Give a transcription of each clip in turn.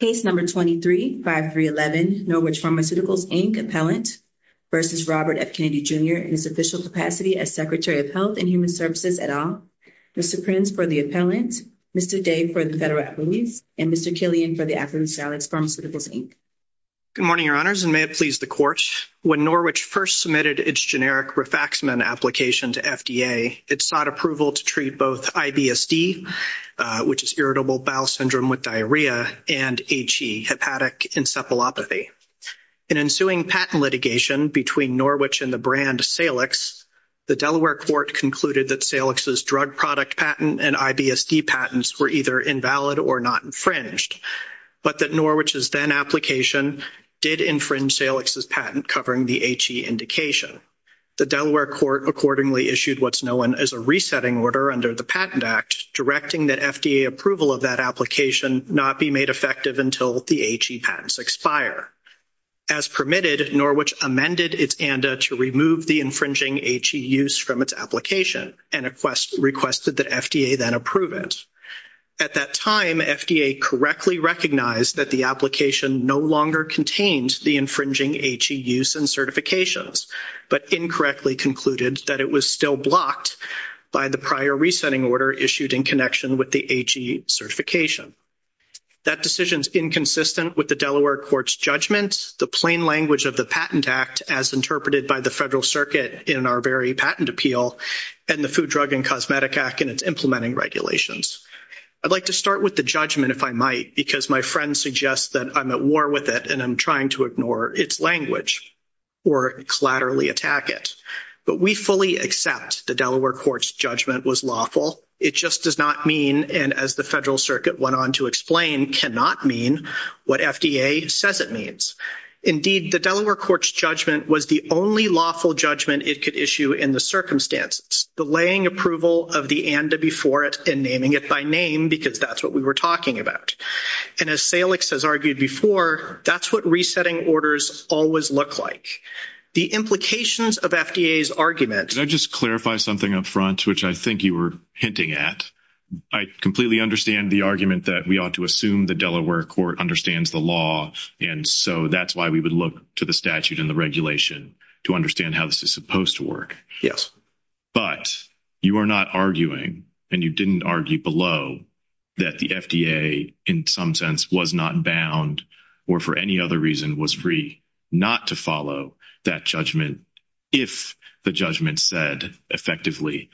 Case No. 23-5311, Norwich Pharmaceuticals, Inc. Appellant v. Robert F. Kennedy Jr. in his official capacity as Secretary of Health and Human Services et al., Mr. Prince for the appellant, Mr. Day for the federal appellant, and Mr. Killian for the African-American Pharmaceuticals, Inc. Good morning, Your Honors, and may it please the Court. When Norwich first submitted its generic Rifaximin application to FDA, it sought approval to treat both IBSD, which is irritable bowel syndrome with diarrhea, and HE, hepatic encephalopathy. In ensuing patent litigation between Norwich and the brand Salix, the Delaware Court concluded that Salix's drug product patent and IBSD patents were either invalid or not infringed, but that Norwich's then-application did infringe Salix's patent covering the HE indication. The Delaware Court accordingly issued what's known as a resetting order under the Patent Act directing that FDA approval of that application not be made effective until the HE patents expire. As permitted, Norwich amended its ANDA to remove the infringing HE use from its application and requested that FDA then approve it. At that time, FDA correctly recognized that the application no longer contained the infringing HE use and certifications, but incorrectly concluded that it was still blocked by the prior resetting order issued in connection with the HE certification. That decision is inconsistent with the Delaware Court's judgment, the plain language of the Patent Act as interpreted by the Federal Circuit in our very patent appeal, and the Food, Drug, and Cosmetic Act and its implementing regulations. I'd like to start with the judgment, if I might, because my friend suggests that I'm at war with it and I'm trying to ignore its language or collaterally attack it. But we fully accept the Delaware Court's judgment was lawful. It just does not mean, and as the Federal Circuit went on to explain, cannot mean what FDA says it means. Indeed, the Delaware Court's judgment was the only lawful judgment it could issue in the circumstances, delaying approval of the ANDA before it and naming it by because that's what we were talking about. And as Salix has argued before, that's what resetting orders always look like. The implications of FDA's argument... Can I just clarify something up front, which I think you were hinting at? I completely understand the argument that we ought to assume the Delaware Court understands the law, and so that's why we would look to the statute and the regulation to understand how this is supposed to work. Yes. But you are not arguing, and you didn't argue below, that the FDA in some sense was not bound or for any other reason was free not to follow that judgment if the judgment said effectively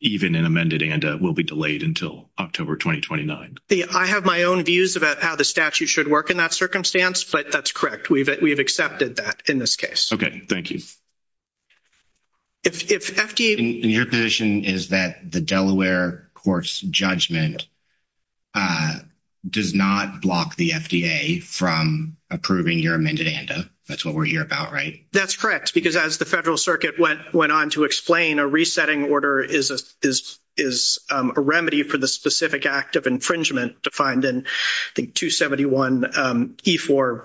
even an amended ANDA will be delayed until October 2029. I have my own views about how the statute should work in that circumstance, but that's correct. We've accepted that in this case. Okay, thank you. And your position is that the Delaware Court's judgment does not block the FDA from approving your amended ANDA? That's what we're here about, right? That's correct, because as the Federal Circuit went on to explain, a resetting order is a remedy for the specific act of infringement defined in, I think, 271E4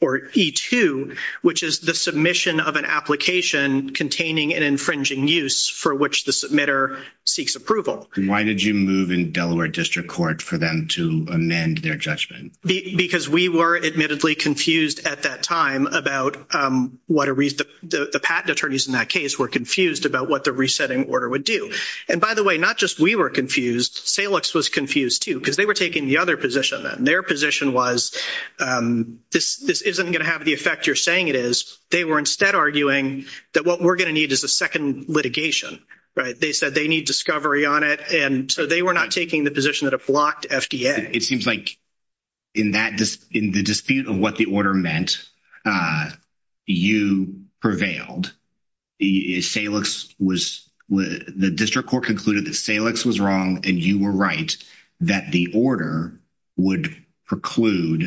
or E2, which is the submission of an application containing an infringing use for which the submitter seeks approval. Why did you move in Delaware District Court for them to amend their judgment? Because we were admittedly confused at that time about the patent attorneys in that case were confused about what the resetting order would do. And by the way, not just we were confused, Salix was confused too, because they were taking the other position then. Their position was, this isn't going to have the effect you're saying it is. They were instead arguing that what we're going to need is a second litigation, right? They said they need discovery on it, and so they were not taking the position that it blocked FDA. It seems like in the dispute of what the order meant, you prevailed. The district court concluded that Salix was wrong, and you were right, that the order would preclude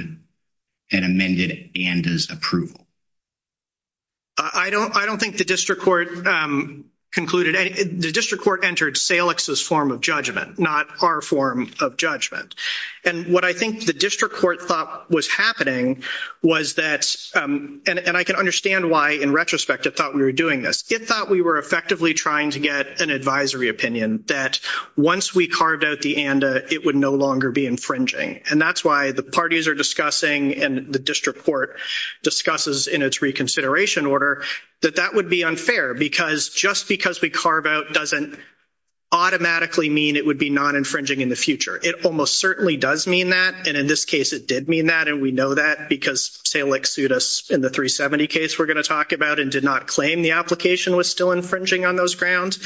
an amended ANDA's approval. I don't think the district court concluded. The district court entered Salix's form of judgment, not our form of judgment. And what I think the district court thought was happening was that, and I can understand why in retrospect it thought we were doing this. It thought we were effectively trying to get an advisory opinion that once we carved out the ANDA, it would no longer be infringing. And that's why the parties are discussing and the district court discusses in its reconsideration order that that would be unfair, because just because we carve out doesn't automatically mean it would be non-infringing in the future. It almost certainly does mean that, and in this case it did mean that, and we know that because Salix sued us in the 370 case we're talking about and did not claim the application was still infringing on those grounds.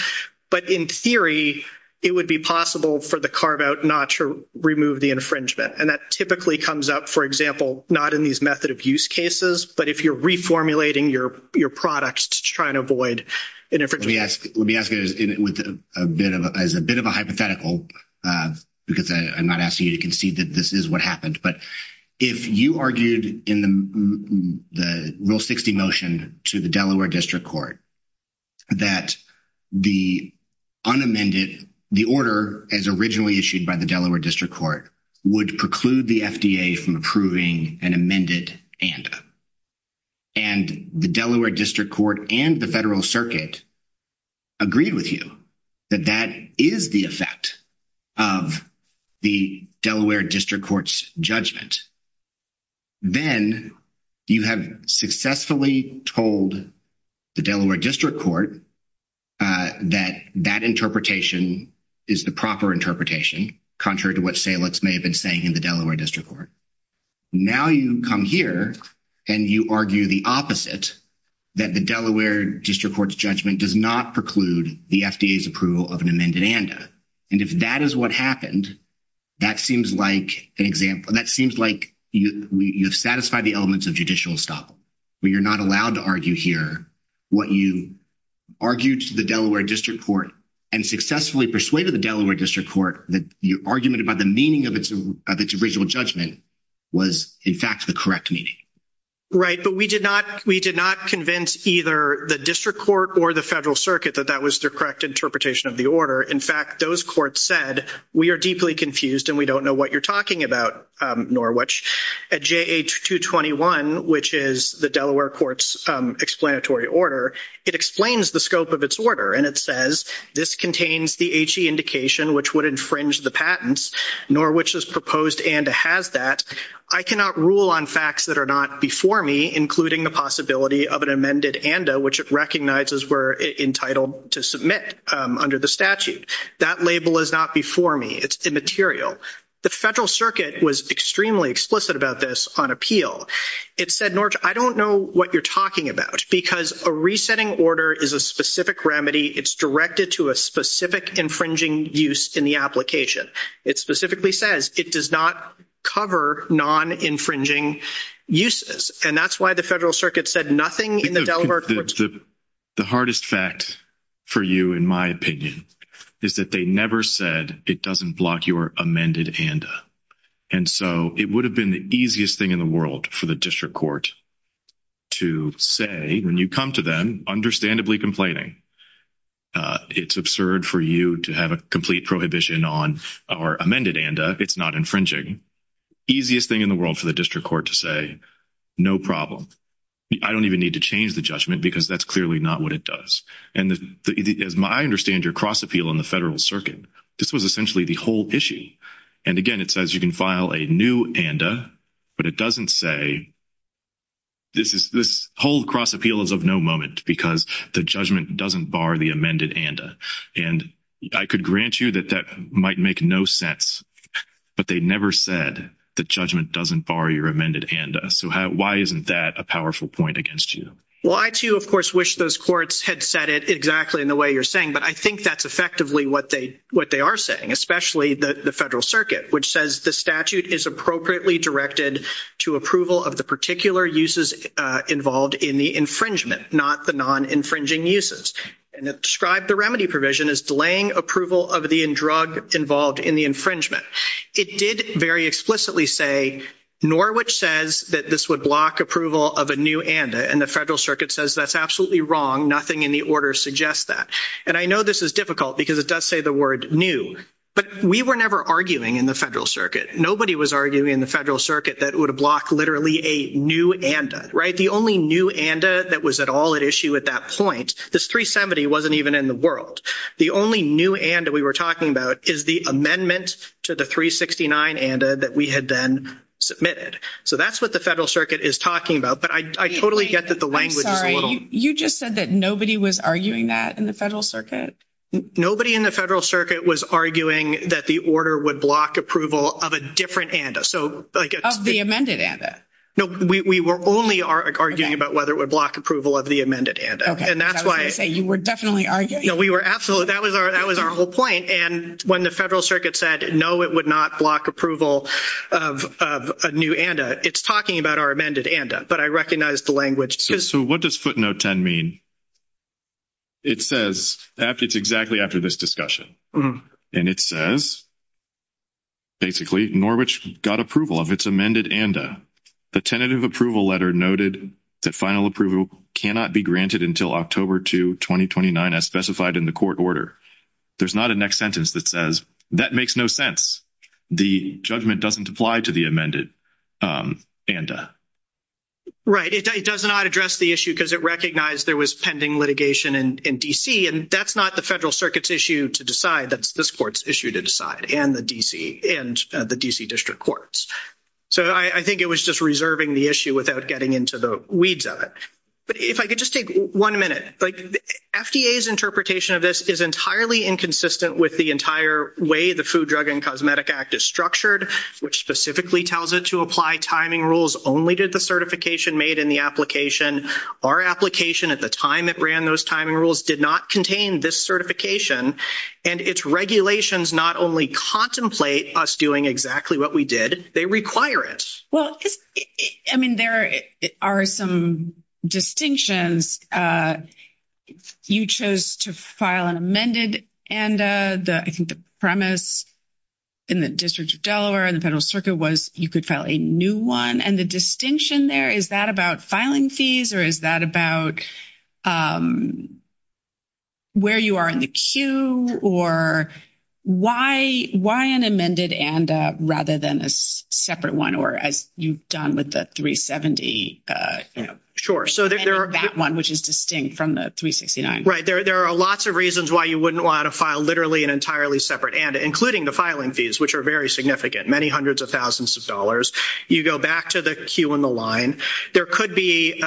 But in theory, it would be possible for the carve-out not to remove the infringement. And that typically comes up, for example, not in these method of use cases, but if you're reformulating your products to try and avoid an infringement. Let me ask you, as a bit of a hypothetical, because I'm not asking you to concede that this is what happened, but if you argued in the the Rule 60 motion to the Delaware District Court that the unamended, the order as originally issued by the Delaware District Court, would preclude the FDA from approving an amended ANDA, and the Delaware District Court and the Federal Circuit agreed with you that that is the effect of the Delaware District Court's judgment, then you have successfully told the Delaware District Court that that interpretation is the proper interpretation, contrary to what Salix may have been saying in the Delaware District Court. Now you come here and you argue the opposite, that the Delaware District Court's judgment does not preclude the FDA's approval of an amended ANDA. And if that is what happened, that seems like an example, that seems like you have satisfied the elements of judicial estoppel, where you're not allowed to argue here what you argued to the Delaware District Court and successfully persuaded the Delaware District Court that your argument about the meaning of its original judgment was, in fact, the correct meaning. Right, but we did not convince either the District Court or the Federal Circuit that that was the correct interpretation of the order. In fact, those courts said, we are deeply confused and we don't know what you're talking about, Norwich. At JA-221, which is the Delaware Court's explanatory order, it explains the scope of its order and it says, this contains the HE indication which would infringe the patents, nor which is proposed ANDA has that. I cannot rule on facts that are not before me, including the possibility of an amended ANDA, which it recognizes we're entitled to submit under the statute. That label is not before me. It's immaterial. The Federal Circuit was extremely explicit about this on appeal. It said, Norwich, I don't know what you're talking about because a resetting order is a specific remedy. It's directed to a specific infringing use in the application. It specifically says it does not cover non-infringing uses. And that's why the Federal Circuit said nothing in the Delaware Court's version. The hardest fact for you, in my opinion, is that they never said it doesn't block your amended ANDA. And so it would have been the easiest thing in the world for the District Court to say, when you come to them, understandably complaining. It's absurd for you to have a complete prohibition on our amended ANDA. It's not infringing. Easiest thing in the world for the District Court to say, no problem. I don't even need to change the judgment because that's clearly not what it does. And as I understand your cross appeal in the Federal Circuit, this was essentially the whole issue. And again, it says you can file a new ANDA, but it doesn't say this whole cross appeal is of no moment because the judgment doesn't bar the amended ANDA. And I could grant you that that might make no sense, but they never said the judgment doesn't bar your amended ANDA. So why isn't that a powerful point against you? Well, I too, of course, wish those courts had said it exactly in the way you're saying, but I think that's effectively what they are saying, especially the Federal Circuit, which says the statute is appropriately directed to approval of the particular uses involved in the infringement, not the non-infringing uses. And it described the remedy provision as delaying approval of the drug involved in the infringement. It did very explicitly say, nor which says that this would block approval of a new ANDA. And the Federal Circuit says that's absolutely wrong. Nothing in the order suggests that. And I know this is difficult because it does say the word new, but we were never arguing in the Federal Circuit. Nobody was arguing in the Federal Circuit that it would block literally a new ANDA, right? The only new ANDA that was at all at issue at that point, this 370 wasn't even in the world. The only new ANDA we were talking about is the amendment to the 369 ANDA that we had then submitted. So that's what the Federal Circuit is talking about, but I totally get that the language is a little- I'm sorry, you just said that nobody was arguing that in the Federal Circuit? Nobody in the Federal Circuit was arguing that the order would block approval of a different ANDA. Of the amended ANDA? No, we were only arguing about whether it would block approval of the amended ANDA. And that's why- I was going to say you were definitely arguing- No, we were absolutely- that was our whole point. And when the Federal Circuit said, no, it would not block approval of a new ANDA, it's talking about our amended ANDA, but I recognized the language. So what does footnote 10 mean? It says- it's exactly after this discussion. And it says, basically, Norwich got approval of its amended ANDA. The tentative approval letter noted that final approval cannot be granted until October 2, 2029 as specified in the court order. There's not a next sentence that says that makes no sense. The judgment doesn't apply to the amended ANDA. Right. It does not address the issue because it recognized there was pending litigation in D.C. And that's not the Federal Circuit's issue to decide. That's this court's issue to decide, and the D.C. and the D.C. District Courts. So I think it was just reserving the issue without getting into the weeds of it. But if I could just take one minute. FDA's interpretation of this is entirely inconsistent with the entire way the Food, Drug, and Cosmetic Act is structured, which specifically tells it to apply timing rules only to the certification made in the application. Our application at the time it ran those timing rules did not contain this certification. And its regulations not only contemplate us doing exactly what we did, they require it. Well, I mean, there are some distinctions. You chose to file an amended ANDA. I think the premise in the District of Delaware and the Federal Circuit was you could file a new one. And the distinction there, is that about filing fees or is that about where you are in the queue or why an amended ANDA rather than a separate one, or as you've done with the 370, you know, that one, which is distinct from the 369? Right. There are lots of reasons why you wouldn't want to file literally an entirely separate ANDA, including the filing fees, which are very significant, many hundreds of thousands of dollars. You go back to the queue and the line. There could be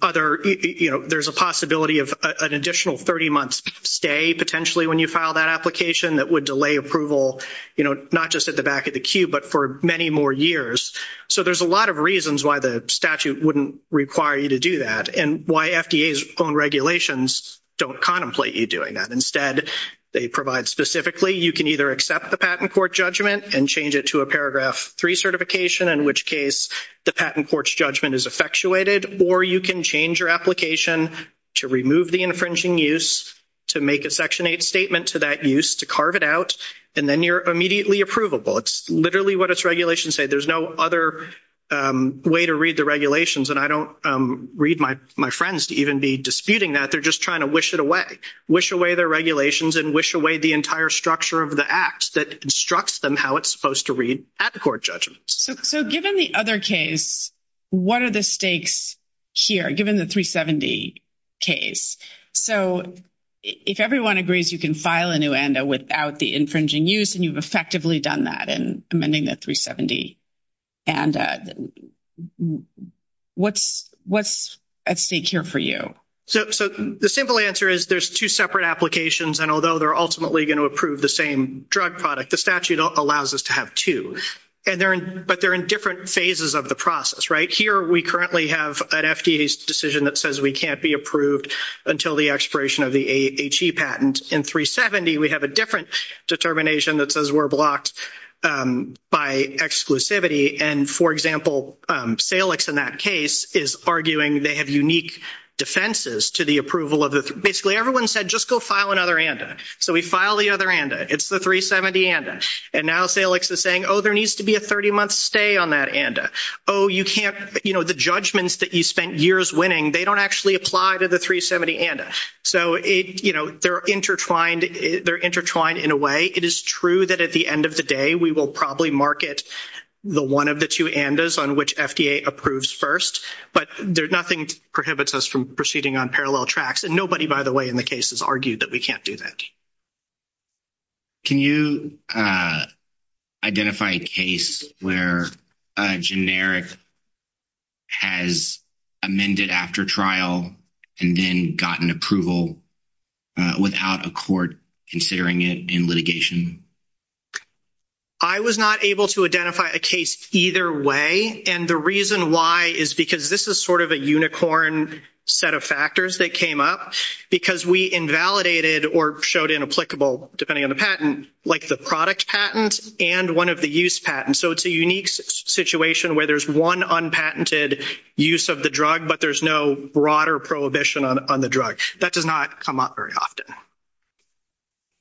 other, you know, there's a possibility of an additional 30 months stay potentially when you file that application that would delay approval, you know, not just at the back of the queue, but for many more years. So there's a lot of reasons why the statute wouldn't require you to do that and why FDA's own regulations don't contemplate you doing that. Instead, they provide specifically you can either accept the patent court judgment and change it to a Paragraph 3 certification, in which case the patent court's judgment is effectuated, or you can change your application to remove the infringing use, to make a Section 8 statement to that use, to carve it out, and then you're immediately approvable. It's literally what its regulations say. There's no other way to read the regulations, and I don't read my friends to even be disputing that. They're just trying to wish it away, wish away their regulations and wish away the entire structure of the Act that instructs them how it's supposed to read at the court judgment. So given the other case, what are the stakes here, given the 370 case? So if everyone agrees you can file a new ANDA without the infringing use, and you've effectively done that in amending the 370, and what's at stake here for you? So the simple answer is there's two separate applications, and although they're ultimately going to approve the same drug product, the statute allows us to have two, but they're in different phases of the process, right? Here we currently have an FDA's decision that says we can't be approved until the expiration of the AHE patent. In 370, we have a different determination that says we're blocked by exclusivity, and, for example, Salix in that case is arguing they have unique defenses to the approval of the—basically, everyone said just go file another ANDA. So we file the other ANDA. It's the 370 ANDA, and now Salix is saying, oh, there needs to be a 30-month stay on that ANDA. Oh, you can't—you know, the judgments that you spent years winning, they don't actually apply to the 370 ANDA. So, you know, they're intertwined. They're intertwined in a way. It is true that at the end of the day, we will probably market the one of the two ANDAs on which FDA approves first, but nothing prohibits us from proceeding on parallel tracks, and nobody, by the way, in the case has argued that we can't do that. Can you identify a case where a generic has amended after trial and then gotten approval without a court considering it in litigation? I was not able to identify a case either way, and the reason why is because this is sort of a unicorn set of factors that came up because we invalidated or showed inapplicable, depending on the patent, like the product patent and one of the use patents. So it's a unique situation where there's one unpatented use of the drug, but there's no broader prohibition on the drug. That does not come up very often.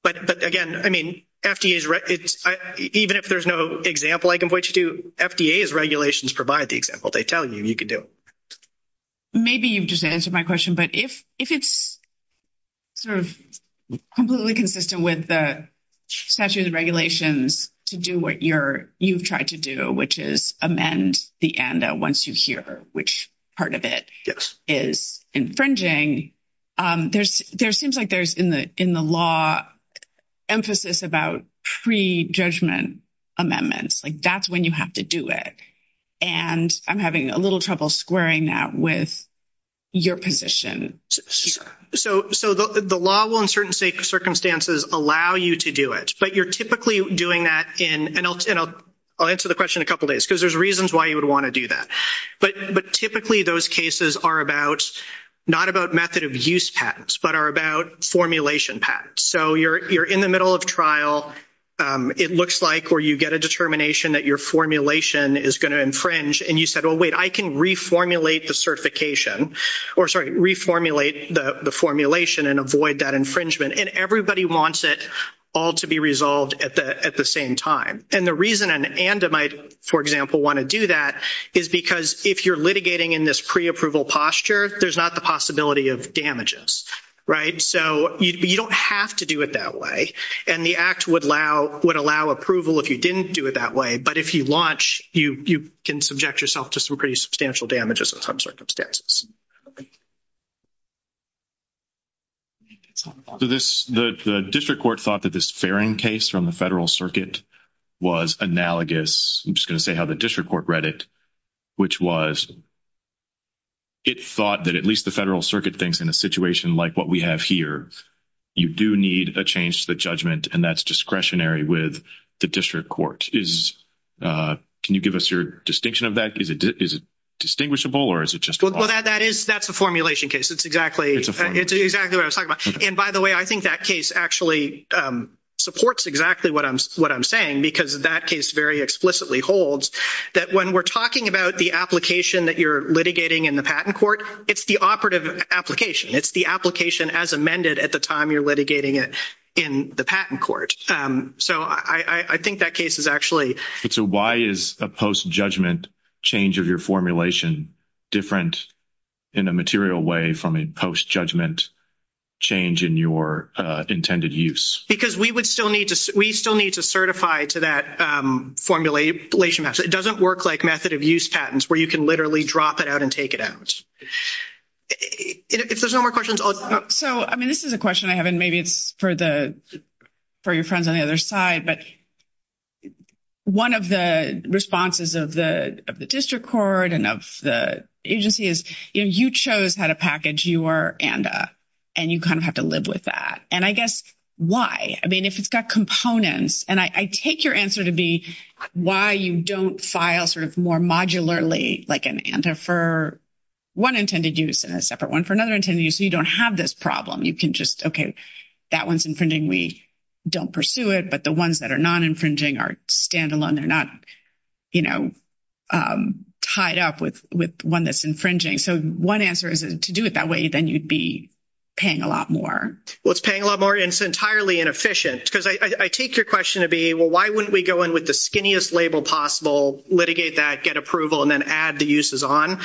But again, even if there's no example I can point you to, FDA's regulations provide the example. They tell you you can do it. Maybe you've just answered my question, but if it's sort of completely consistent with the statute of regulations to do what you've tried to do, which is amend the ANDA once you hear which part of it is infringing, there seems like there's in the law emphasis about pre-judgment amendments, like that's when you have to do it. And I'm having a little trouble squaring that with your position. So the law will, in certain circumstances, allow you to do it, but you're typically doing that in, and I'll answer the question in a couple days, because there's reasons why you would want to do that. But typically those cases are about, not about method of use patents, but are about formulation patents. So you're in the middle of trial. It looks like where you get a determination that your formulation is going to infringe, and you said, well, wait, I can reformulate the certification, or sorry, reformulate the formulation and avoid that infringement. And everybody wants it all to be resolved at the same time. And the reason an ANDA might, for example, want to do that is because if you're litigating in this pre-approval posture, there's not the possibility of damages, right? So you don't have to do it that way. And the act would allow approval if you didn't do it that way. But if you launch, you can subject yourself to some pretty substantial damages in some circumstances. So this, the District Court thought that this Farring case from the Federal Circuit was analogous, I'm just going to say how the District Court read it, which was it thought that at least the Federal Circuit thinks in a situation like what we have here, you do need a change to the judgment, and that's discretionary with the District Court. Is, can you give us your distinction of that? Is it distinguishable, or is it just? Well, that is, that's a formulation case. It's exactly, it's exactly what I was talking about. And by the way, I think that case actually supports exactly what I'm saying, because that case very explicitly holds that when we're talking about the application that you're litigating in the Patent Court, it's the operative application. It's the application as amended at the time you're litigating it in the Patent Court. So I think that case is actually. So why is a post-judgment change of your formulation different in a material way from a post-judgment change in your intended use? Because we would still need to, we still need to certify to that formulation master. It doesn't work like method of use patents where you can literally drop it out and take it out. If there's no more questions. So, I mean, this is a question I have, and maybe it's for the, for your friends on the other side, but one of the responses of the District Court and of the agency is, you know, you chose how to package your ANDA, and you kind of have to live with that. And I guess, why? I mean, if it's got components, and I take your answer to be why you don't file sort of more modularly, like an ANDA for one intended use and a separate one for another intended use, you don't have this problem. You can just, okay, that one's infringing. We don't pursue it. But the ones that are non-infringing are standalone. They're not, you know, tied up with one that's infringing. So one answer is to do it that way, then you'd be paying a lot more. Well, it's paying a lot more, and it's entirely inefficient. Because I take your question to be, well, why wouldn't we go in with the skinniest label possible, litigate that, get approval, and then add the uses on?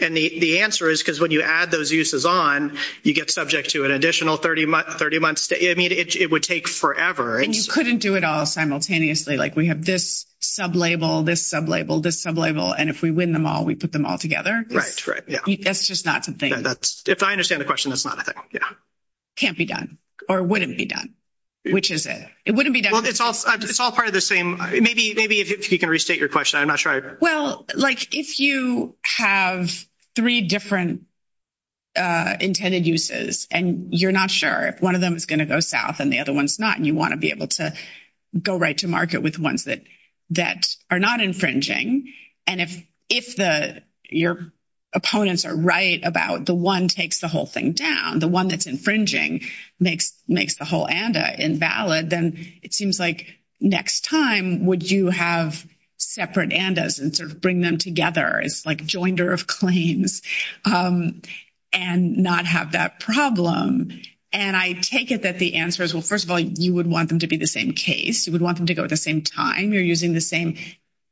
And the answer is, because when you add those uses on, you get subject to an additional 30 months. I mean, it would take forever. And you couldn't do it all simultaneously. Like, we have this sub-label, this sub-label, this sub-label, and if we win them all, we put them all together. Right, right, yeah. That's just not something. That's, if I understand the question, that's not a thing, yeah. Can't be done, or wouldn't be done. Which is it? It wouldn't be done. Well, it's all part of the same. Maybe if you can restate your question, I'm not sure. Well, like, if you have three different intended uses, and you're not sure if one of them is going to go south and the other one's not, and you want to be able to go right to market with ones that are not infringing, and if your opponents are right about the one takes the whole thing down, the one that's infringing makes the whole ANDA invalid, then it seems like next time, would you have separate ANDAs and sort of bring them together as like joinder of claims and not have that problem? And I take it that the answer is, well, first of all, you would want them to be the same case. You would want them to go at the same time. You're using the same,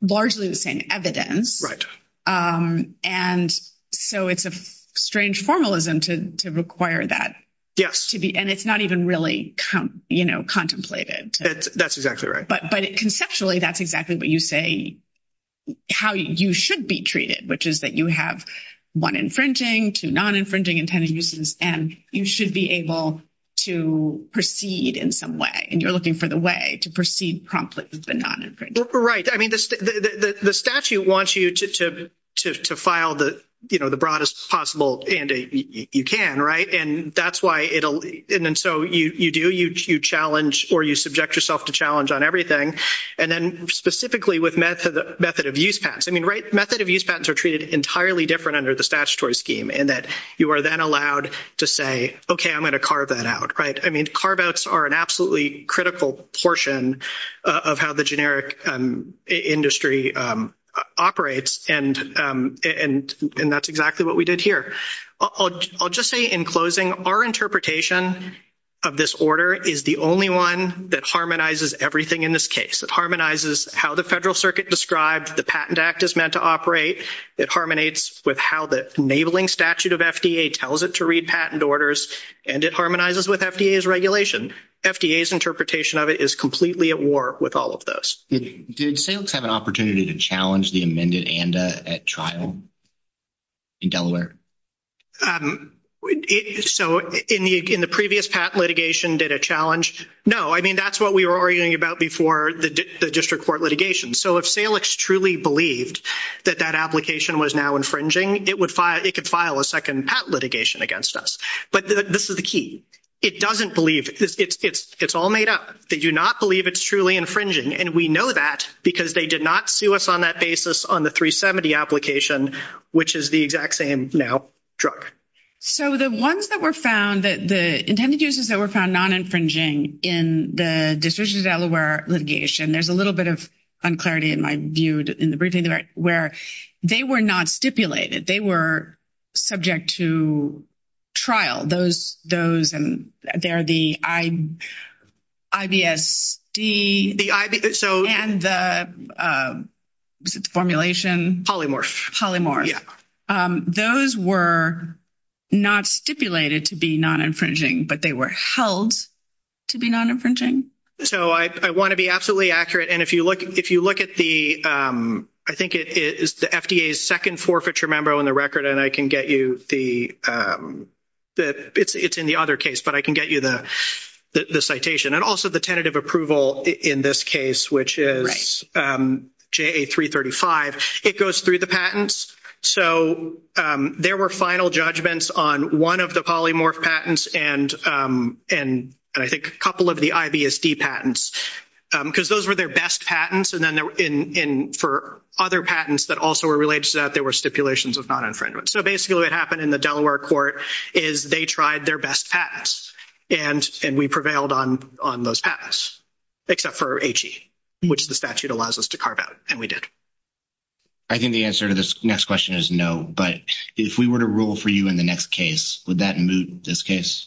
largely the same evidence. Right. And so it's a strange formalism to require that. Yes. To be, and it's not even really, you know, contemplated. That's exactly right. But conceptually, that's exactly what you say, how you should be treated, which is that you have one infringing, two non-infringing intended uses, and you should be able to proceed in some way. And you're looking for the way to proceed promptly with the non-infringing. Right. I mean, the statute wants you to file the, you know, the broadest possible ANDA you can, right? And that's why it'll, and then so you do, you challenge or you subject yourself to challenge on everything. And then specifically with method of use patents, I mean, right, method of use patents are treated entirely different under the statutory scheme in that you are then allowed to say, okay, I'm going to carve that out, right? I mean, carve outs are an absolutely critical portion of how the generic industry operates. And that's exactly what we did here. I'll just say in closing, our interpretation of this order is the only one that harmonizes everything in this case. It harmonizes how the federal circuit described the Patent Act is meant to operate. It harmonates with how the enabling statute of FDA tells it to read patent orders, and it harmonizes with FDA's regulation. FDA's interpretation of it is completely at war with all of those. Did SAILCS have an opportunity to challenge the amended ANDA at trial in Delaware? So in the previous patent litigation, did it challenge? No, I mean, that's what we were arguing about before the district court litigation. So if SAILCS truly believed that that application was now infringing, it could file a second patent litigation against us. But this is the key. It doesn't believe, it's all made up. They do not believe it's truly infringing. And we know that because they did not sue us on that basis on the 370 application, which is the exact same now drug. So the ones that were found, the intended uses that were found non-infringing in the district of Delaware litigation, there's a little bit of unclarity in my view in the briefing, where they were not stipulated. They were subject to trial. Those, and they're the IBSD and the formulation. Polymorph. Polymorph. Yeah. Those were not stipulated to be non-infringing, but they were held to be non-infringing. So I want to be absolutely accurate. And if you look at the, I think it is the FDA's second forfeiture memo in the record, and I can get you the, it's in the other case, but I can get you the citation. And also the tentative approval in this case, which is JA-335. It goes through the patents. So there were final judgments on one of the polymorph patents, and I think a couple of the IBSD patents, because those were their best patents. And then for other patents that also related to that, there were stipulations of non-infringement. So basically what happened in the Delaware court is they tried their best patents, and we prevailed on those patents, except for HE, which the statute allows us to carve out, and we did. I think the answer to this next question is no, but if we were to rule for you in the next case, would that moot this case?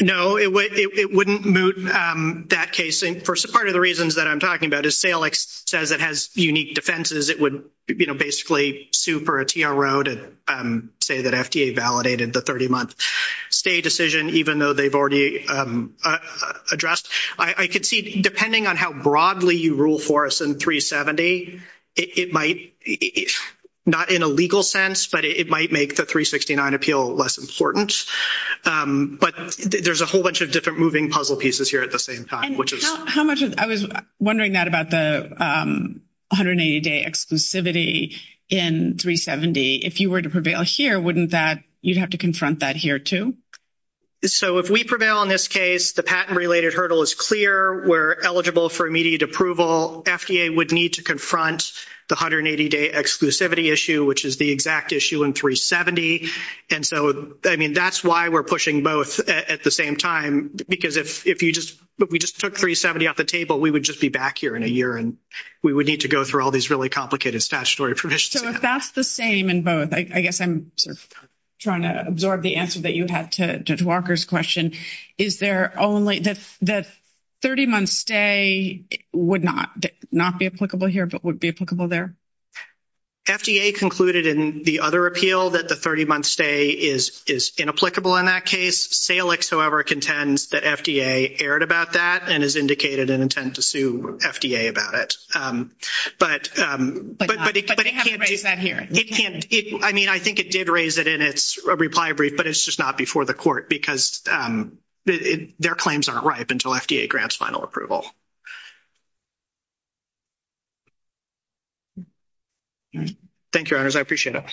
No, it wouldn't moot that case. Part of the reasons that I'm talking about is Salix says it has unique defenses. It would basically sue for a TRO to say that FDA validated the 30-month stay decision, even though they've already addressed. I could see, depending on how broadly you rule for us in 370, it might, not in a legal sense, but it might make the 369 appeal less important. But there's a whole bunch different moving puzzle pieces here at the same time. I was wondering that about the 180-day exclusivity in 370. If you were to prevail here, wouldn't that, you'd have to confront that here too? So if we prevail on this case, the patent-related hurdle is clear. We're eligible for immediate approval. FDA would need to confront the 180-day exclusivity issue, which is the exact issue in 370. And so, I mean, that's why we're pushing both at the same time, because if we just took 370 off the table, we would just be back here in a year, and we would need to go through all these really complicated statutory provisions. So if that's the same in both, I guess I'm sort of trying to absorb the answer that you had to Judge Walker's question. Is there only, the 30-month stay would not be applicable here, but would be applicable there? FDA concluded in the other appeal that the 30-month stay is inapplicable in that case. SAILIX, however, contends that FDA erred about that and has indicated an intent to sue FDA about it. But it can't do that here. I mean, I think it did raise it in its reply brief, but it's just not before the court, because their claims aren't ripe until FDA grants final approval. Thank you, Your Honors. I appreciate it. Good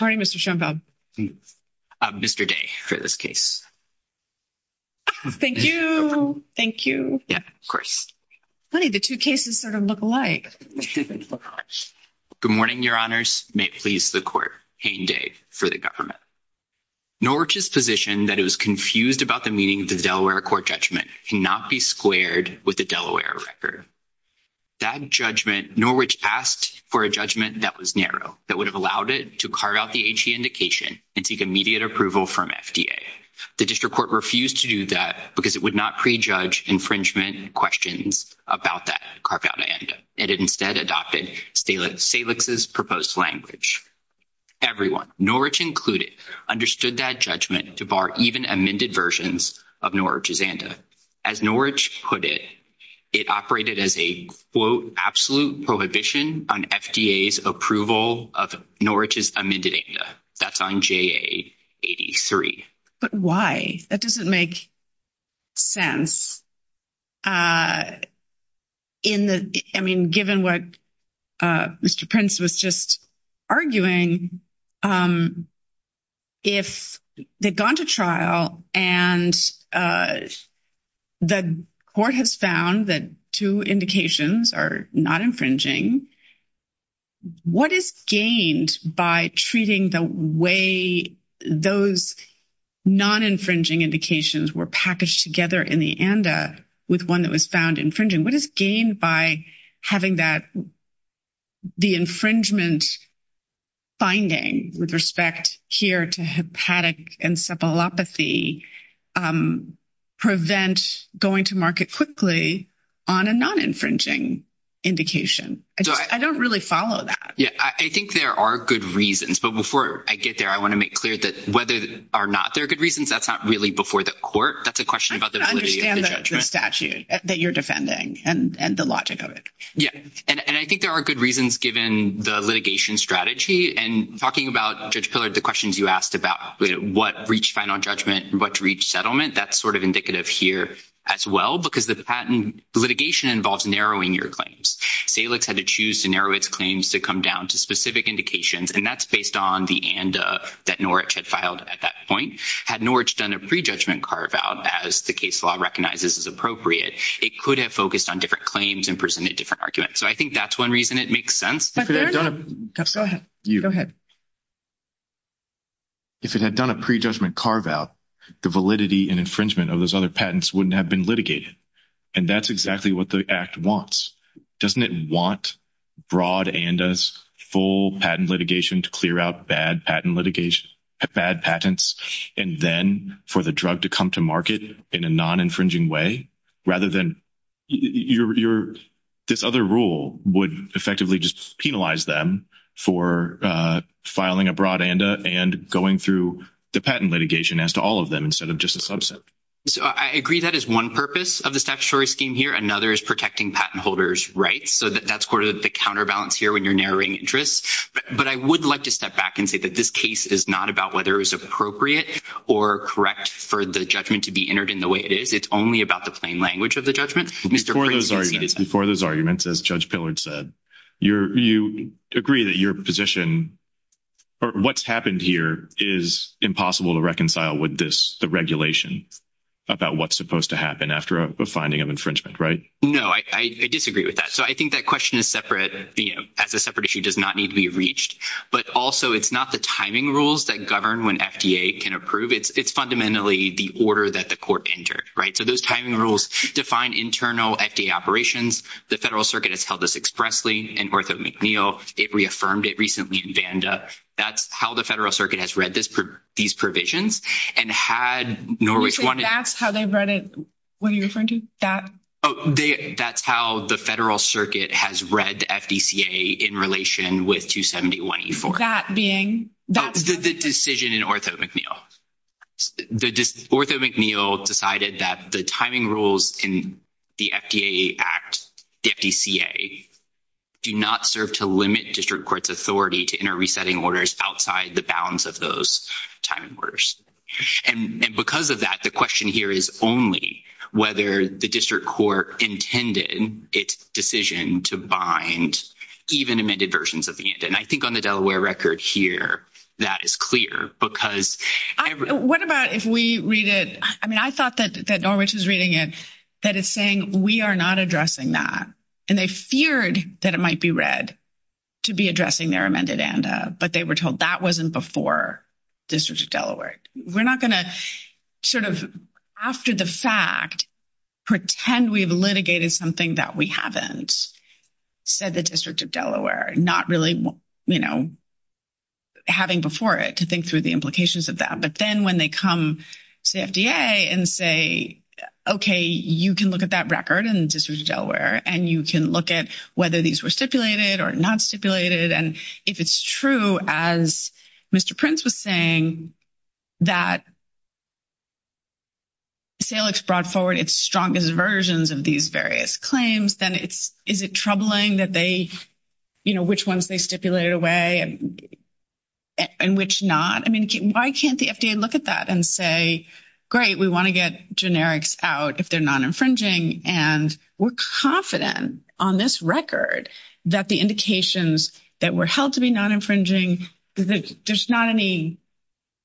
morning, Mr. Schoenfeld. Good morning, Mr. Day, for this case. Thank you. Thank you. Yeah, of course. Funny, the two cases sort of look alike. Good morning, Your Honors. May it please the Court. Hayne Day for the government. Norwich's position that it was confused about the meaning of the Delaware court judgment cannot be squared with the Delaware record. That judgment, Norwich asked for a judgment that was narrow, that would have allowed it to carve out the HE indication and seek immediate approval from FDA. The district court refused to do that because it would not prejudge infringement questions about that carved-out ANDA. It instead adopted SAILIX's proposed language. Everyone, Norwich included, understood that judgment to bar even amended versions of Norwich's ANDA. As Norwich put it, it operated as a, quote, absolute prohibition on FDA's approval of Norwich's amended ANDA. That's on JA83. But why? That doesn't make sense. I mean, given what Mr. Prince was just arguing, if they'd gone to trial and the court has found that two indications are not infringing, what is gained by treating the way those non-infringing indications were packaged together in the ANDA with one that was found infringing? What is gained by having the infringement finding with respect here to hepatic encephalopathy prevent going to market quickly on a non-infringing indication? I don't really follow that. Yeah. I think there are good reasons. But before I get there, I want to make clear that whether or not there are good reasons, that's not really before the court. That's a question about the validity of the judgment. I don't understand the statute that you're defending and the logic of it. Yeah. And I think there are good reasons, given the litigation strategy. And talking about, Judge Pillard, the questions you asked about what reached final judgment and what reached settlement, that's sort of indicative here as well, because the patent litigation involves narrowing your claims. Salix had to choose to narrow its claims to come down to specific indications. And that's based on the ANDA that Norwich had filed at that point. Had Norwich done a pre-judgment carve-out, as the case law recognizes as appropriate, it could have focused on different claims and presented different arguments. So I think that's one reason it makes sense. Go ahead. Go ahead. If it had done a pre-judgment carve-out, the validity and infringement of those other patents wouldn't have been litigated. And that's exactly what the Act wants. Doesn't it want broad ANDA's full patent litigation to clear out bad patent litigation, bad patents, and then for the drug to come to market in a non-infringing way, rather than this other rule would effectively just penalize them for filing a broad ANDA and going through the patent litigation as to all of them instead of just a subset. So I agree that is one purpose of the statutory scheme here. Another is protecting patent holders' rights. So that's sort of the counterbalance here when you're narrowing interests. But I would like to step back and say that this case is not about whether it was judgment to be entered in the way it is. It's only about the plain language of the judgment. Before those arguments, as Judge Pillard said, you agree that your position or what's happened here is impossible to reconcile with this, the regulation about what's supposed to happen after a finding of infringement, right? No, I disagree with that. So I think that question is separate, as a separate issue, does not need to be reached. But also, it's not the timing rules that govern when FDA can approve. It's fundamentally the order that the court entered, right? So those timing rules define internal FDA operations. The Federal Circuit has held this expressly in Ortho McNeil. It reaffirmed it recently in Vanda. That's how the Federal Circuit has read these provisions. And had Norwich wanted— You say that's how they've read it? What are you referring to? That? Oh, that's how the Federal Circuit has read the FDCA in relation with 271E4. That being— That's the decision in Ortho McNeil. Ortho McNeil decided that the timing rules in the FDA Act, the FDCA, do not serve to limit district court's authority to enter resetting orders outside the bounds of those timing orders. And because of that, the question here is only whether the district court intended its decision to bind even amended versions of the ANDA. And I think on the Delaware record here, that is clear because— What about if we read it— I mean, I thought that Norwich was reading it, that it's saying, we are not addressing that. And they feared that it might be read to be addressing their amended ANDA, but they were told that wasn't before District of Delaware. We're not going to sort of, after the fact, pretend we've litigated something that we haven't, said the District of Delaware, not really, you know, having before it to think through the implications of that. But then when they come to the FDA and say, okay, you can look at that record in District of Delaware, and you can look at whether these were stipulated or not stipulated. And if it's true, as Mr. Prince was saying, that SAILIX brought forward its strongest versions of these various claims, then is it troubling that they, you know, which ones they stipulated away and which not? I mean, why can't the FDA look at that and say, great, we want to get generics out if they're non-infringing, and we're confident on this record that the indications that were to be non-infringing, there's not any,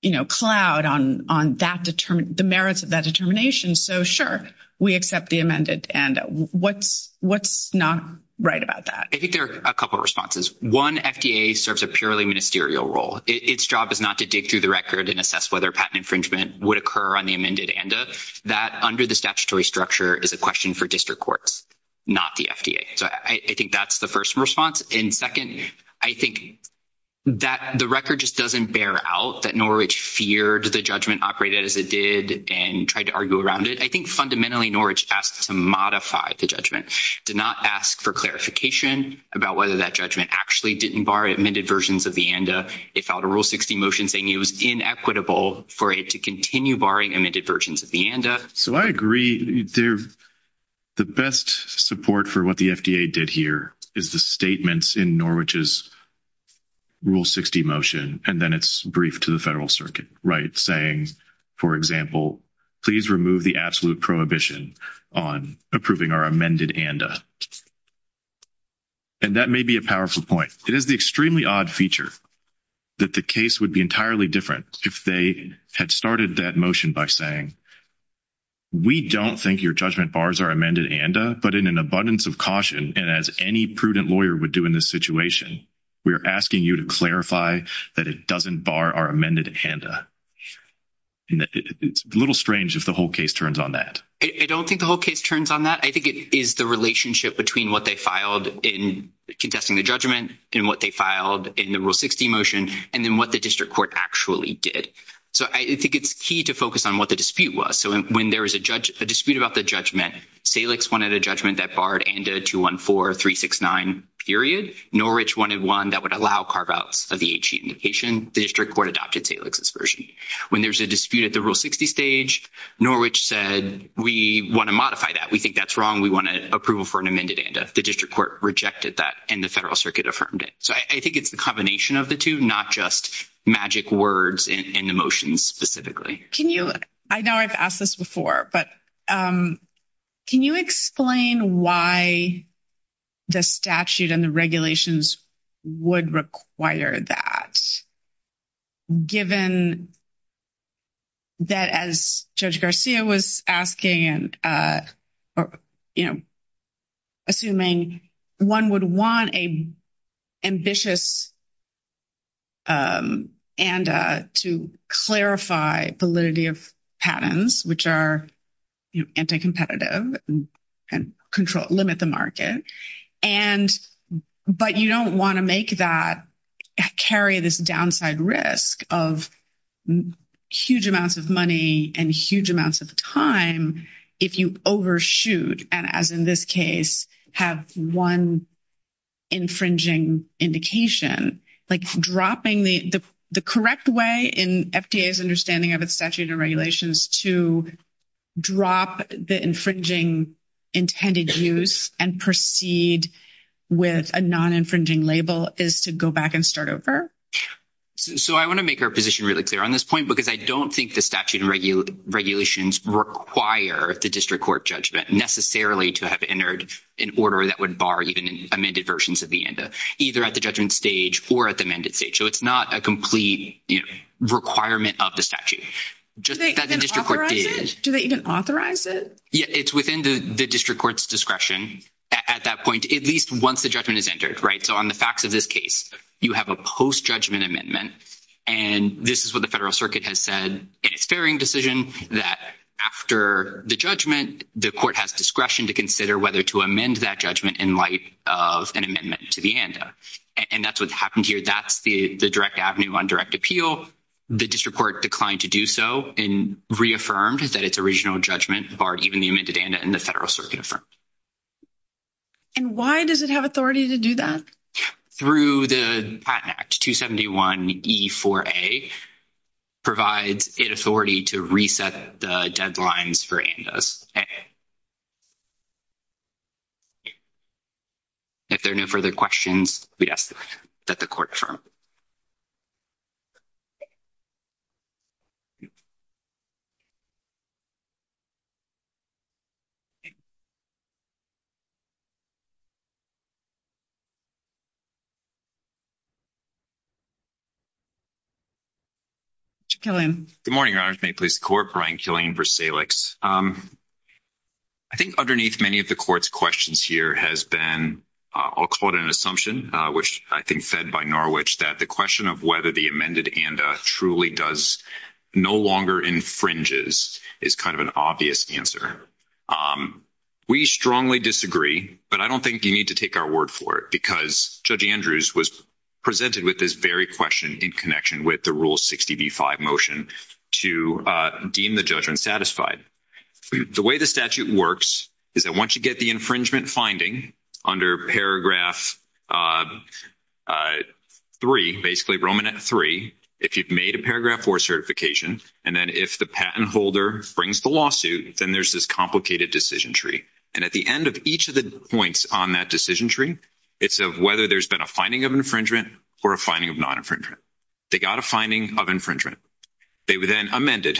you know, cloud on the merits of that determination. So, sure, we accept the amended ANDA. What's not right about that? I think there are a couple of responses. One, FDA serves a purely ministerial role. Its job is not to dig through the record and assess whether patent infringement would occur on the amended ANDA. That, under the statutory structure, is a question for district courts, not the FDA. So, I think that's the first response. And second, I think that the record just doesn't bear out that Norwich feared the judgment operated as it did and tried to argue around it. I think fundamentally Norwich asked to modify the judgment, did not ask for clarification about whether that judgment actually didn't bar amended versions of the ANDA. It filed a Rule 60 motion saying it was inequitable for it to continue barring amended versions of the ANDA. So, I agree. The best support for what the FDA did here is the statements in Norwich's Rule 60 motion and then its brief to the Federal Circuit, right, saying, for example, please remove the absolute prohibition on approving our amended ANDA. And that may be a powerful point. It is the extremely odd feature that the case would be entirely different if they had started that motion by saying, we don't think your judgment bars our amended ANDA, but in an abundance of caution and as any prudent lawyer would do in this situation, we are asking you to clarify that it doesn't bar our amended ANDA. It's a little strange if the whole case turns on that. I don't think the whole case turns on that. I think it is the relationship between what they filed in contesting the judgment and what they filed in the Rule 60 motion and then what the dispute about the judgment. Salix wanted a judgment that barred ANDA 214-369, period. Norwich wanted one that would allow carve-outs of the HE indication. The District Court adopted Salix's version. When there's a dispute at the Rule 60 stage, Norwich said, we want to modify that. We think that's wrong. We want approval for an amended ANDA. The District Court rejected that and the Federal Circuit affirmed it. So, I think it's the combination of the two, not just magic words and emotions specifically. I know I've asked this before, but can you explain why the statute and the regulations would require that, given that as Judge Garcia was asking, assuming one would want an ambitious ANDA to clarify validity of patents, which are anti-competitive and limit the market, but you don't want to make that carry this downside risk of huge amounts of money and huge if you overshoot and, as in this case, have one infringing indication, like dropping the correct way in FDA's understanding of its statute and regulations to drop the infringing intended use and proceed with a non-infringing label is to go back and start over? So, I want to make our position really clear on this point because I don't think the statute and regulations require the District Court judgment necessarily to have entered an order that would bar even amended versions of the ANDA, either at the judgment stage or at the amended stage. So, it's not a complete requirement of the statute. Do they even authorize it? Yeah, it's within the District Court's discretion at that point, at least once the judgment is entered, right? So, on the facts of this case, you have a post-judgment amendment and this is what the Federal Circuit has said in its fairing decision that after the judgment, the court has discretion to consider whether to amend that judgment in light of an amendment to the ANDA. And that's what's happened here. That's the direct avenue on direct appeal. The District Court declined to do so and reaffirmed that its original judgment barred even the amended ANDA and the Federal Circuit affirmed. And why does it have authority to do that? Through the Patent Act, 271E4A provides it authority to reset the deadlines for ANDAs. If there are no further questions, we'd ask that the court confirm. Mr. Killian. Good morning, Your Honors. May it please the Court, Brian Killian, v. Salix. I think underneath many of the court's questions here has been, I'll call it an assumption, which I think fed by Norwich, that the question of whether the amended ANDA truly does, no longer infringes, is kind of an obvious answer. We strongly disagree, but I don't think you need to take our word for it because Judge Andrews was presented with this very question in connection with the Rule 60b-5 motion to deem the judgment satisfied. The way the statute works is that once you get the infringement finding under Paragraph 3, basically Romanette 3, if you've made a paragraph and then if the patent holder brings the lawsuit, then there's this complicated decision tree. And at the end of each of the points on that decision tree, it's of whether there's been a finding of infringement or a finding of non-infringement. They got a finding of infringement. They were then amended.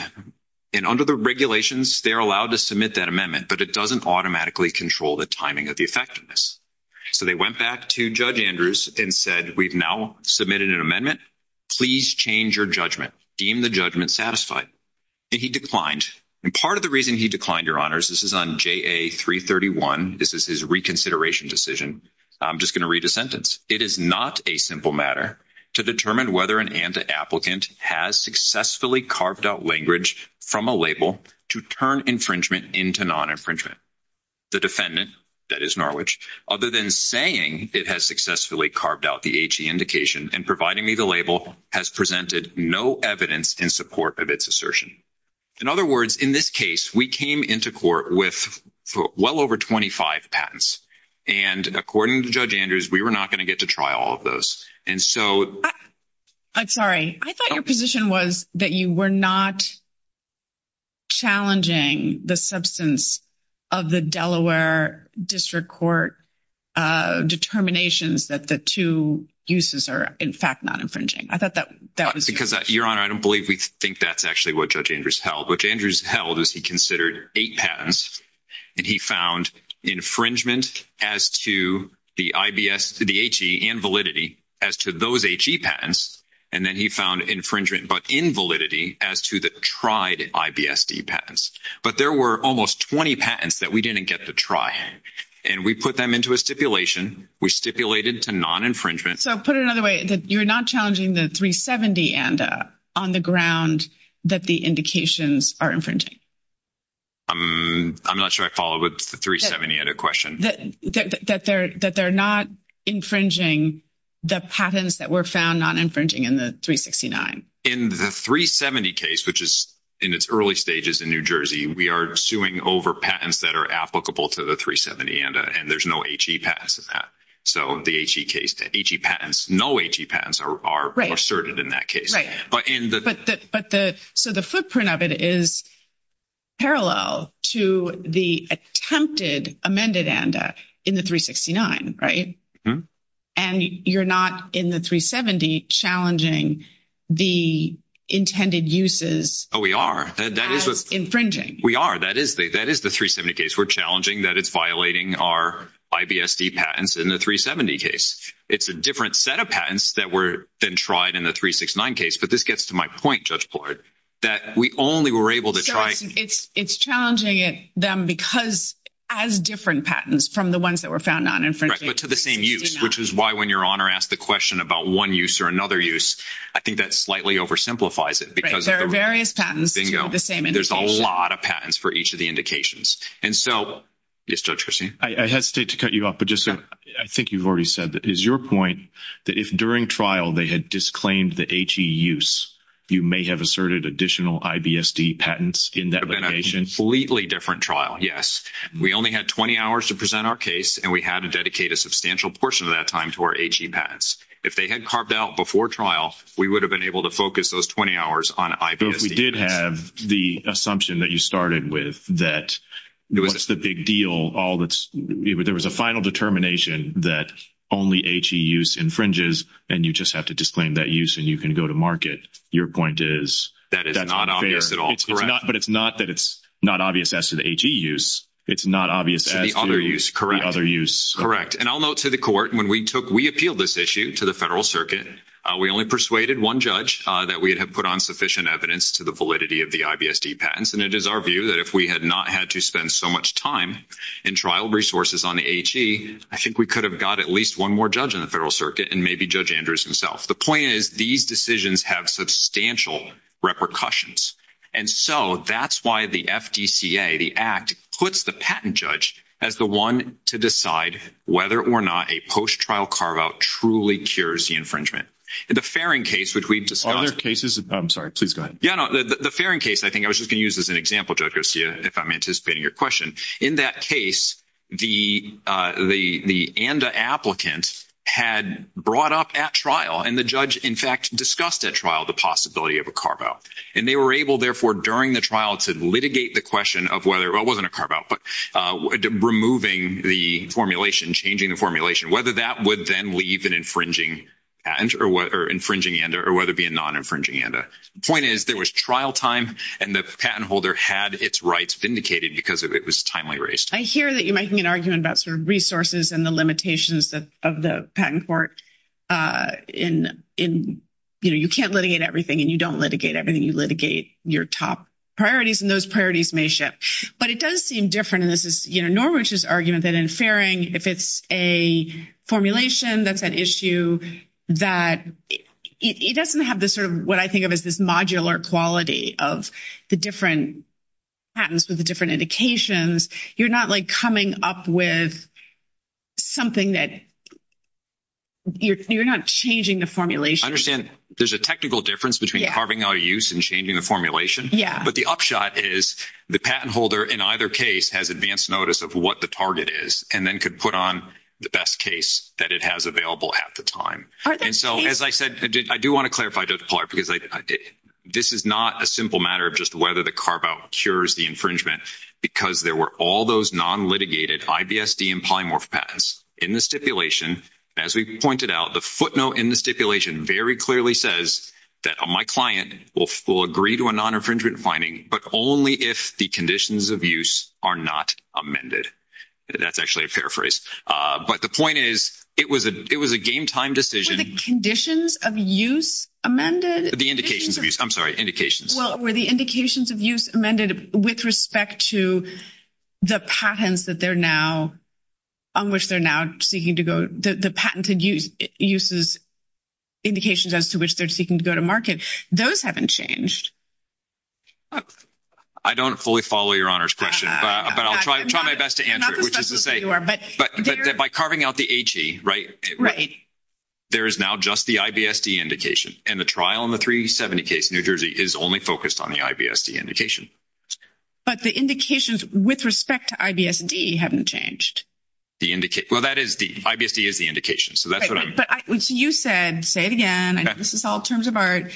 And under the regulations, they're allowed to submit that amendment, but it doesn't automatically control the timing of the effectiveness. So they went back to Judge Andrews to deem the judgment satisfied. And he declined. And part of the reason he declined, Your Honors, this is on JA-331. This is his reconsideration decision. I'm just going to read a sentence. It is not a simple matter to determine whether an ANDA applicant has successfully carved out language from a label to turn infringement into non-infringement. The defendant, that is Norwich, other than saying it has successfully carved out the HE indication and providing me a label, has presented no evidence in support of its assertion. In other words, in this case, we came into court with well over 25 patents. And according to Judge Andrews, we were not going to get to try all of those. And so... I'm sorry. I thought your position was that you were not challenging the substance of the Delaware District Court determinations that the two uses are, in fact, non-infringing. I thought that was... Because, Your Honor, I don't believe we think that's actually what Judge Andrews held. What Andrews held is he considered eight patents. And he found infringement as to the HE and validity as to those HE patents. And then he found infringement but invalidity as to the tried IBSD patents. But there were almost 20 patents that we didn't get to try. And we put them into a stipulation. We stipulated to non-infringement. So put it another way, that you're not challenging the 370 ANDA on the ground that the indications are infringing. I'm not sure I follow with the 370 ANDA question. That they're not infringing the patents that were found non-infringing in the 369. In the 370 case, which is in its early stages in New Jersey, we are suing over patents that are applicable to the 370 ANDA. And there's no HE patents in that. So the HE case, the HE patents, no HE patents are asserted in that case. Right. So the footprint of it is parallel to the attempted amended ANDA in the 369, right? And you're not in the 370 challenging the intended uses as infringing. Oh, we are. That is the 370 case. We're challenging that it's violating our IBSD patents in the 370 case. It's a different set of patents that were then tried in the 369 case. But this gets to my point, Judge Pollard, that we only were able to try. So it's challenging them because as different patents from the ones that were found non-infringing. Right, but to the same use, which is why when your honor asked the question about one use or another use, I think that slightly oversimplifies it. Because there are various patents. Bingo. There's a lot of patents for each of the indications. And so, yes, Judge Chrissy. I hesitate to cut you off, but I think you've already said that. Is your point that if during trial they had disclaimed the HE use, you may have asserted additional IBSD patents in that location? Completely different trial, yes. We only had 20 hours to present our case and we had to dedicate a substantial portion of that time to our HE patents. If they had carved out before trial, we would have been able to focus those 20 hours on IBSD. But if we did have the assumption that you started with that, what's the big deal? There was a final determination that only HE use infringes and you just have to disclaim that use and you can go to market. Your point is? That is not obvious at all. Correct. But it's not that it's not obvious as to the HE use. It's not obvious as to the other use. Correct. And I'll note to the court, when we took, we only persuaded one judge that we'd have put on sufficient evidence to the validity of the IBSD patents. And it is our view that if we had not had to spend so much time in trial resources on the HE, I think we could have got at least one more judge in the Federal Circuit and maybe Judge Andrews himself. The point is, these decisions have substantial repercussions. And so that's why the FDCA, the Act, puts the patent judge as the one to decide whether or not a post-trial carveout truly cures the infringement. In the Farron case, which we've discussed... Other cases? I'm sorry, please go ahead. Yeah, no, the Farron case, I think I was just going to use as an example, Judge Garcia, if I'm anticipating your question. In that case, the ANDA applicant had brought up at trial and the judge, in fact, discussed at trial the possibility of a carveout. And they were able, therefore, during the trial to litigate the question of whether, well, it wasn't a carveout, but removing the formulation, changing the formulation, whether that would then leave an infringing patent or infringing ANDA or whether it be a non-infringing ANDA. The point is, there was trial time and the patent holder had its rights vindicated because it was timely raised. I hear that you're making an argument about sort of resources and the limitations of the patent court in, you know, you can't litigate everything and you don't litigate everything, you litigate your top priorities and those priorities may shift. But it does seem different, and this is, you know, Norwich's argument that in Farron, if it's a formulation, that's an issue that it doesn't have the sort of what I think of as this modular quality of the different patents with the different indications. You're not like coming up with something that... You're not changing the formulation. I understand there's a technical difference between carving out a use and changing the formulation, but the upshot is the patent holder in either case has advanced notice of what the target is and then could put on the best case that it has available at the time. And so, as I said, I do want to clarify, this is not a simple matter of just whether the carveout cures the infringement because there were all those non-litigated IBSD and polymorph patents in the stipulation. As we pointed out, the footnote in the stipulation very clearly says that my client will agree to a non-infringement finding, but only if the conditions of use are not amended. That's actually a fair phrase. But the point is, it was a game-time decision... Were the conditions of use amended? The indications of use. I'm sorry, indications. Well, were the indications of use amended with respect to the patents that they're now... On which they're now seeking to go... The patented uses... Indications as to which they're seeking to go to market. Those haven't changed. I don't fully follow Your Honor's question, but I'll try my best to answer it. I'm not the specialist that you are, but... But by carving out the HE, right? Right. There is now just the IBSD indication, and the trial in the 370 case in New Jersey is only focused on the IBSD indication. The indications with respect to IBSD haven't changed. The indicate... Well, that is the... IBSD is the indication, so that's what I'm... But you said, say it again, I know this is all terms of art,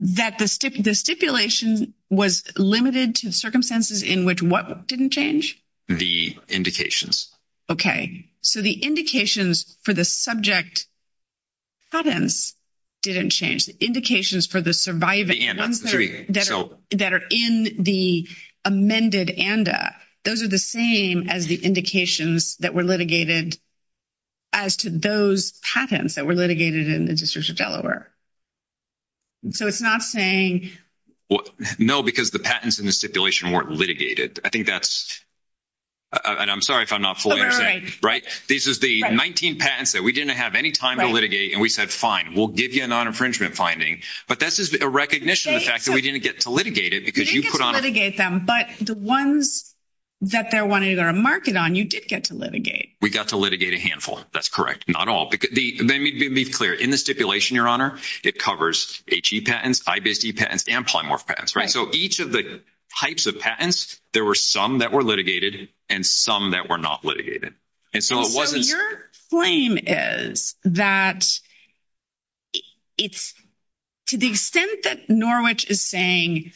that the stipulation was limited to circumstances in which what didn't change? The indications. Okay. So the indications for the subject patents didn't change. The indications for the surviving... The ANDAs. The three, so... That are in the amended ANDA, those are the same as the indications that were litigated as to those patents that were litigated in the District of Delaware. So it's not saying... No, because the patents in the stipulation weren't litigated. I think that's... And I'm sorry if I'm not fully understanding. Right. This is the 19 patents that we didn't have any time to litigate, and we said, fine, we'll give you a non-infringement finding. But that's just a recognition of the fact that we didn't get to litigate it because you put on... We didn't get to litigate them, but the ones that they're wanting to go to market on, you did get to litigate. We got to litigate a handful. That's correct. Not all. Let me be clear. In the stipulation, Your Honor, it covers HE patents, IBSD patents, and polymorph patents, right? So each of the types of patents, there were some that were litigated and some that were not litigated. And so it wasn't... So your flame is that it's to the extent that Norwich is saying,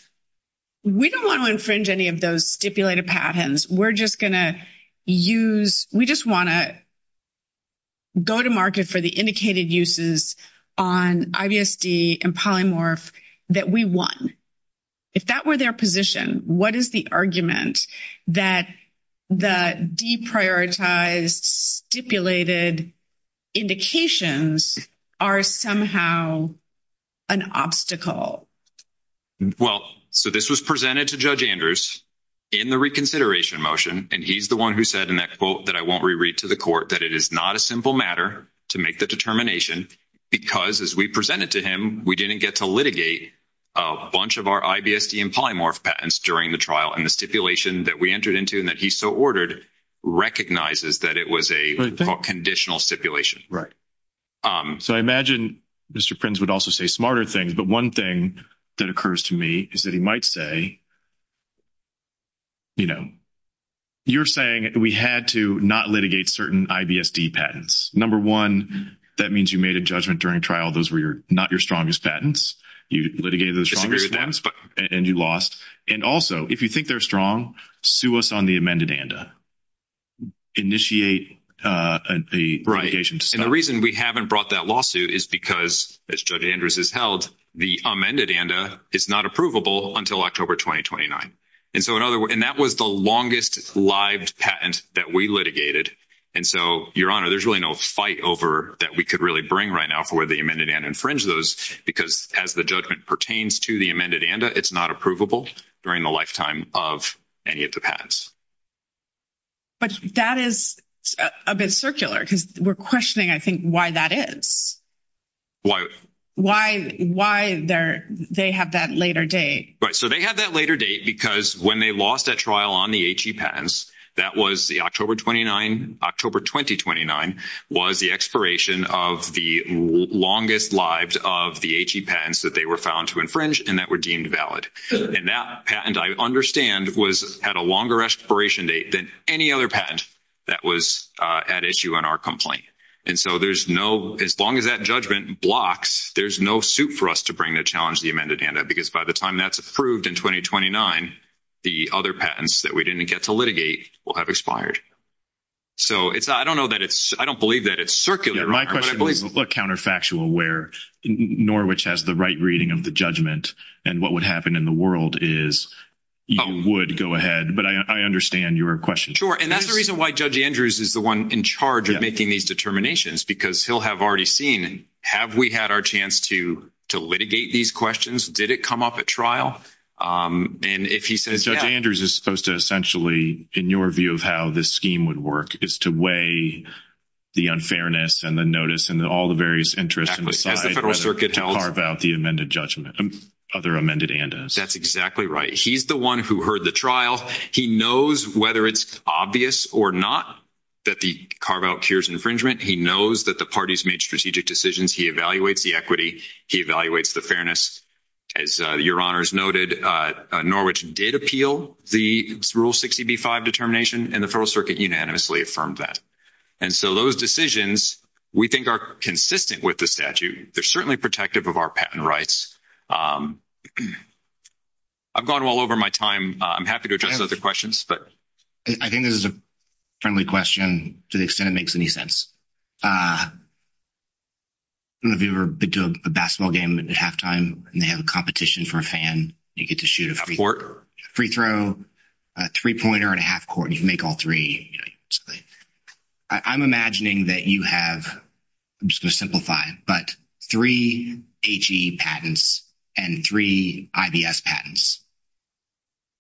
we don't want to infringe any of those stipulated patents. We're just going to use... We just want to go to market for the indicated uses on IBSD and polymorph that we won. If that were their position, what is the argument that the deprioritized stipulated indications are somehow an obstacle? Well, so this was presented to Judge Andrews in the reconsideration motion, and he's the one who said in that quote that I won't reread to the court, that it is not a simple matter to make the determination because as we presented to him, we didn't get to litigate a bunch of our IBSD and that we entered into and that he so ordered recognizes that it was a conditional stipulation. So I imagine Mr. Prince would also say smarter things, but one thing that occurs to me is that he might say, you're saying we had to not litigate certain IBSD patents. Number one, that means you made a judgment during trial. Those were not your strongest patents. You litigated the strongest ones and you lost. And also if you think they're strong, sue us on the amended ANDA. Initiate a litigation. And the reason we haven't brought that lawsuit is because as Judge Andrews has held, the amended ANDA is not approvable until October 2029. And that was the longest live patent that we litigated. And so your honor, there's really no fight over that we could really bring right now for the amended and infringe those because as the judgment pertains to the amended ANDA, it's not approvable during the lifetime of any of the patents. But that is a bit circular because we're questioning, I think, why that is. Why? Why they have that later date. Right. So they have that later date because when they lost that trial on the HE patents, that was the October 2029 was the expiration of the longest lives of the HE patents that they were found to infringe and that were deemed valid. And that patent, I understand, had a longer expiration date than any other patent that was at issue on our complaint. And so there's no, as long as that judgment blocks, there's no suit for us to bring to challenge the amended ANDA because by the time that's approved in 2029, the other patents that we didn't get to litigate will have expired. So it's, I don't know that it's, I don't believe that it's circular. My question is a counterfactual where Norwich has the right reading of the judgment and what would happen in the world is you would go ahead, but I understand your question. Sure. And that's the reason why Judge Andrews is the one in charge of making these determinations because he'll have already seen, have we had our chance to litigate these questions? Did it come up at trial? And if he says- Judge Andrews is supposed to essentially, in your view of how this scheme would work is to weigh the unfairness and the notice and all the various interests and decide whether to carve out the amended judgment, other amended ANDAs. That's exactly right. He's the one who heard the trial. He knows whether it's obvious or not that the carve out cures infringement. He knows that the parties made strategic decisions. He evaluates the equity. He evaluates the fairness. As your honors noted, Norwich did appeal the rule 60B5 determination and the federal circuit unanimously affirmed that. And so those decisions we think are consistent with the statute. They're certainly protective of our patent rights. I've gone all over my time. I'm happy to address other questions, but- I think this is a friendly question to the extent it makes any sense. I don't know if you've ever been to a basketball game at halftime and they have a competition for a fan. You get to shoot a free throw, a three-pointer, and a half court. You can make all three. I'm imagining that you have, I'm just going to simplify, but three HE patents and three IBS patents.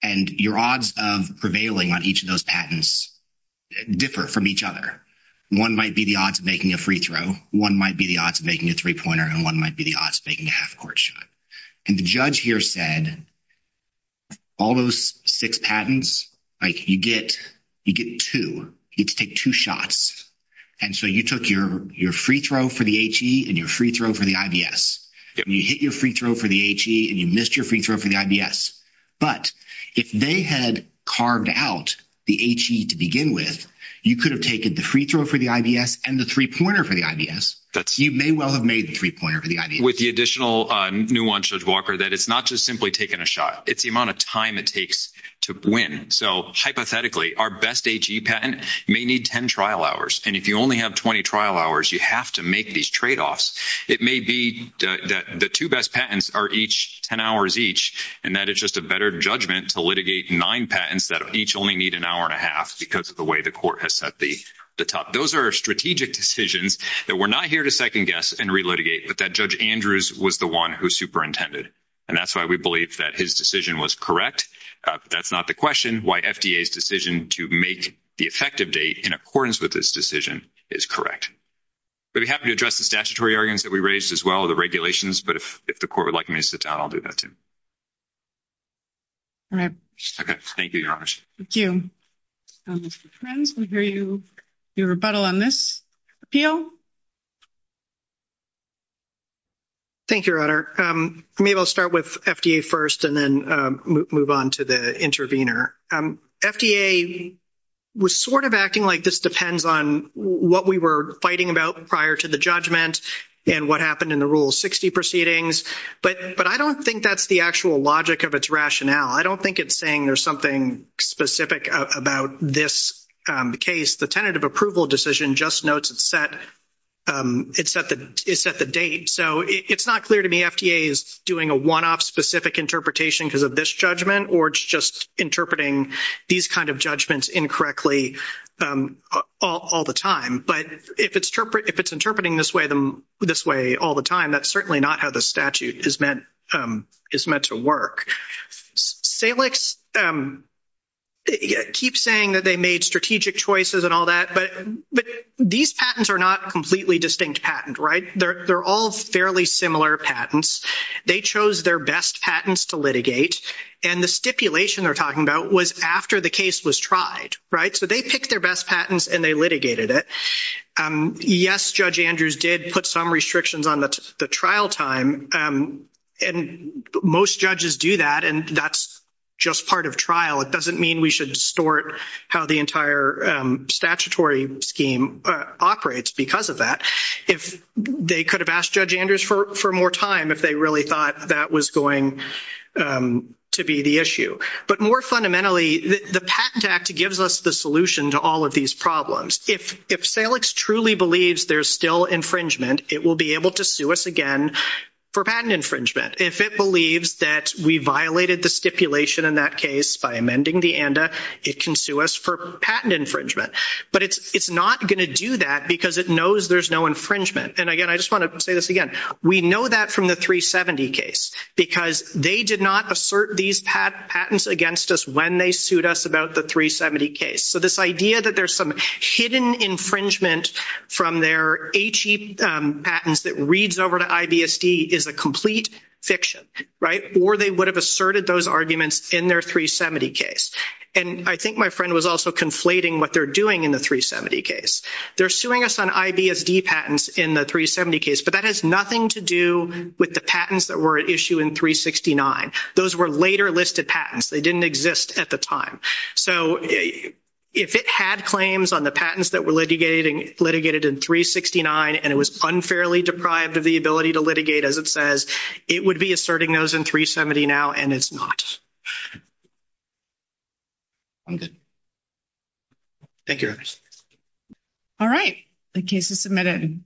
And your odds of prevailing on each of those patents differ from each other. One might be the odds of making a free throw. One might be the odds of making a three-pointer. And one the odds of making a half court shot. And the judge here said, all those six patents, you get two. You get to take two shots. And so you took your free throw for the HE and your free throw for the IBS. You hit your free throw for the HE and you missed your free throw for the IBS. But if they had carved out the HE to begin with, you could have taken the free throw for the IBS and the three-pointer for the IBS. You may well have made the three-pointer for the IBS. With the additional nuance, Judge Walker, that it's not just simply taking a shot. It's the amount of time it takes to win. So hypothetically, our best HE patent may need 10 trial hours. And if you only have 20 trial hours, you have to make these trade-offs. It may be that the two best patents are each 10 hours each and that it's just a better judgment to litigate nine patents that each only need an hour and a half because of the way the court has set the top. Those are strategic decisions that we're not here to second-guess and re-litigate, but that Judge Andrews was the one who superintended. And that's why we believe that his decision was correct. That's not the question. Why FDA's decision to make the effective date in accordance with this decision is correct. We'd be happy to address the statutory arguments that we raised as well, the regulations, but if the court would like me to sit down, I'll do that too. All right. Okay. Thank you, Your Honor. Thank you. Mr. Frenz, we hear your rebuttal on this appeal. Thank you, Your Honor. Maybe I'll start with FDA first and then move on to the intervener. FDA was sort of acting like this depends on what we were fighting about prior to the judgment and what happened in the Rule 60 proceedings, but I don't think that's the actual logic of its rationale. I don't think it's saying there's something specific about this case. The tentative approval decision just notes it's set the date. So it's not clear to me FDA is doing a one-off specific interpretation because of this judgment or it's just interpreting these kind of judgments incorrectly all the time. But if it's interpreting this way all the time, that's certainly not how statute is meant to work. Salix keeps saying that they made strategic choices and all that, but these patents are not completely distinct patent, right? They're all fairly similar patents. They chose their best patents to litigate, and the stipulation they're talking about was after the case was tried, right? So they picked their best patents and they litigated it. Yes, Judge Andrews did put some restrictions on the trial time, and most judges do that, and that's just part of trial. It doesn't mean we should distort how the entire statutory scheme operates because of that. They could have asked Judge Andrews for more time if they really thought that was going to be the issue. But more fundamentally, the Patent Act gives us the truly believes there's still infringement, it will be able to sue us again for patent infringement. If it believes that we violated the stipulation in that case by amending the ANDA, it can sue us for patent infringement. But it's not going to do that because it knows there's no infringement. And again, I just want to say this again. We know that from the 370 case because they did not assert these patents against us when they sued us about the 370 case. So this idea that there's some infringement from their HE patents that reads over to IBSD is a complete fiction. Or they would have asserted those arguments in their 370 case. And I think my friend was also conflating what they're doing in the 370 case. They're suing us on IBSD patents in the 370 case, but that has nothing to do with the patents that were at issue in 369. Those were later listed patents. They litigated in 369, and it was unfairly deprived of the ability to litigate, as it says. It would be asserting those in 370 now, and it's not. I'm good. Thank you. All right. The case is submitted.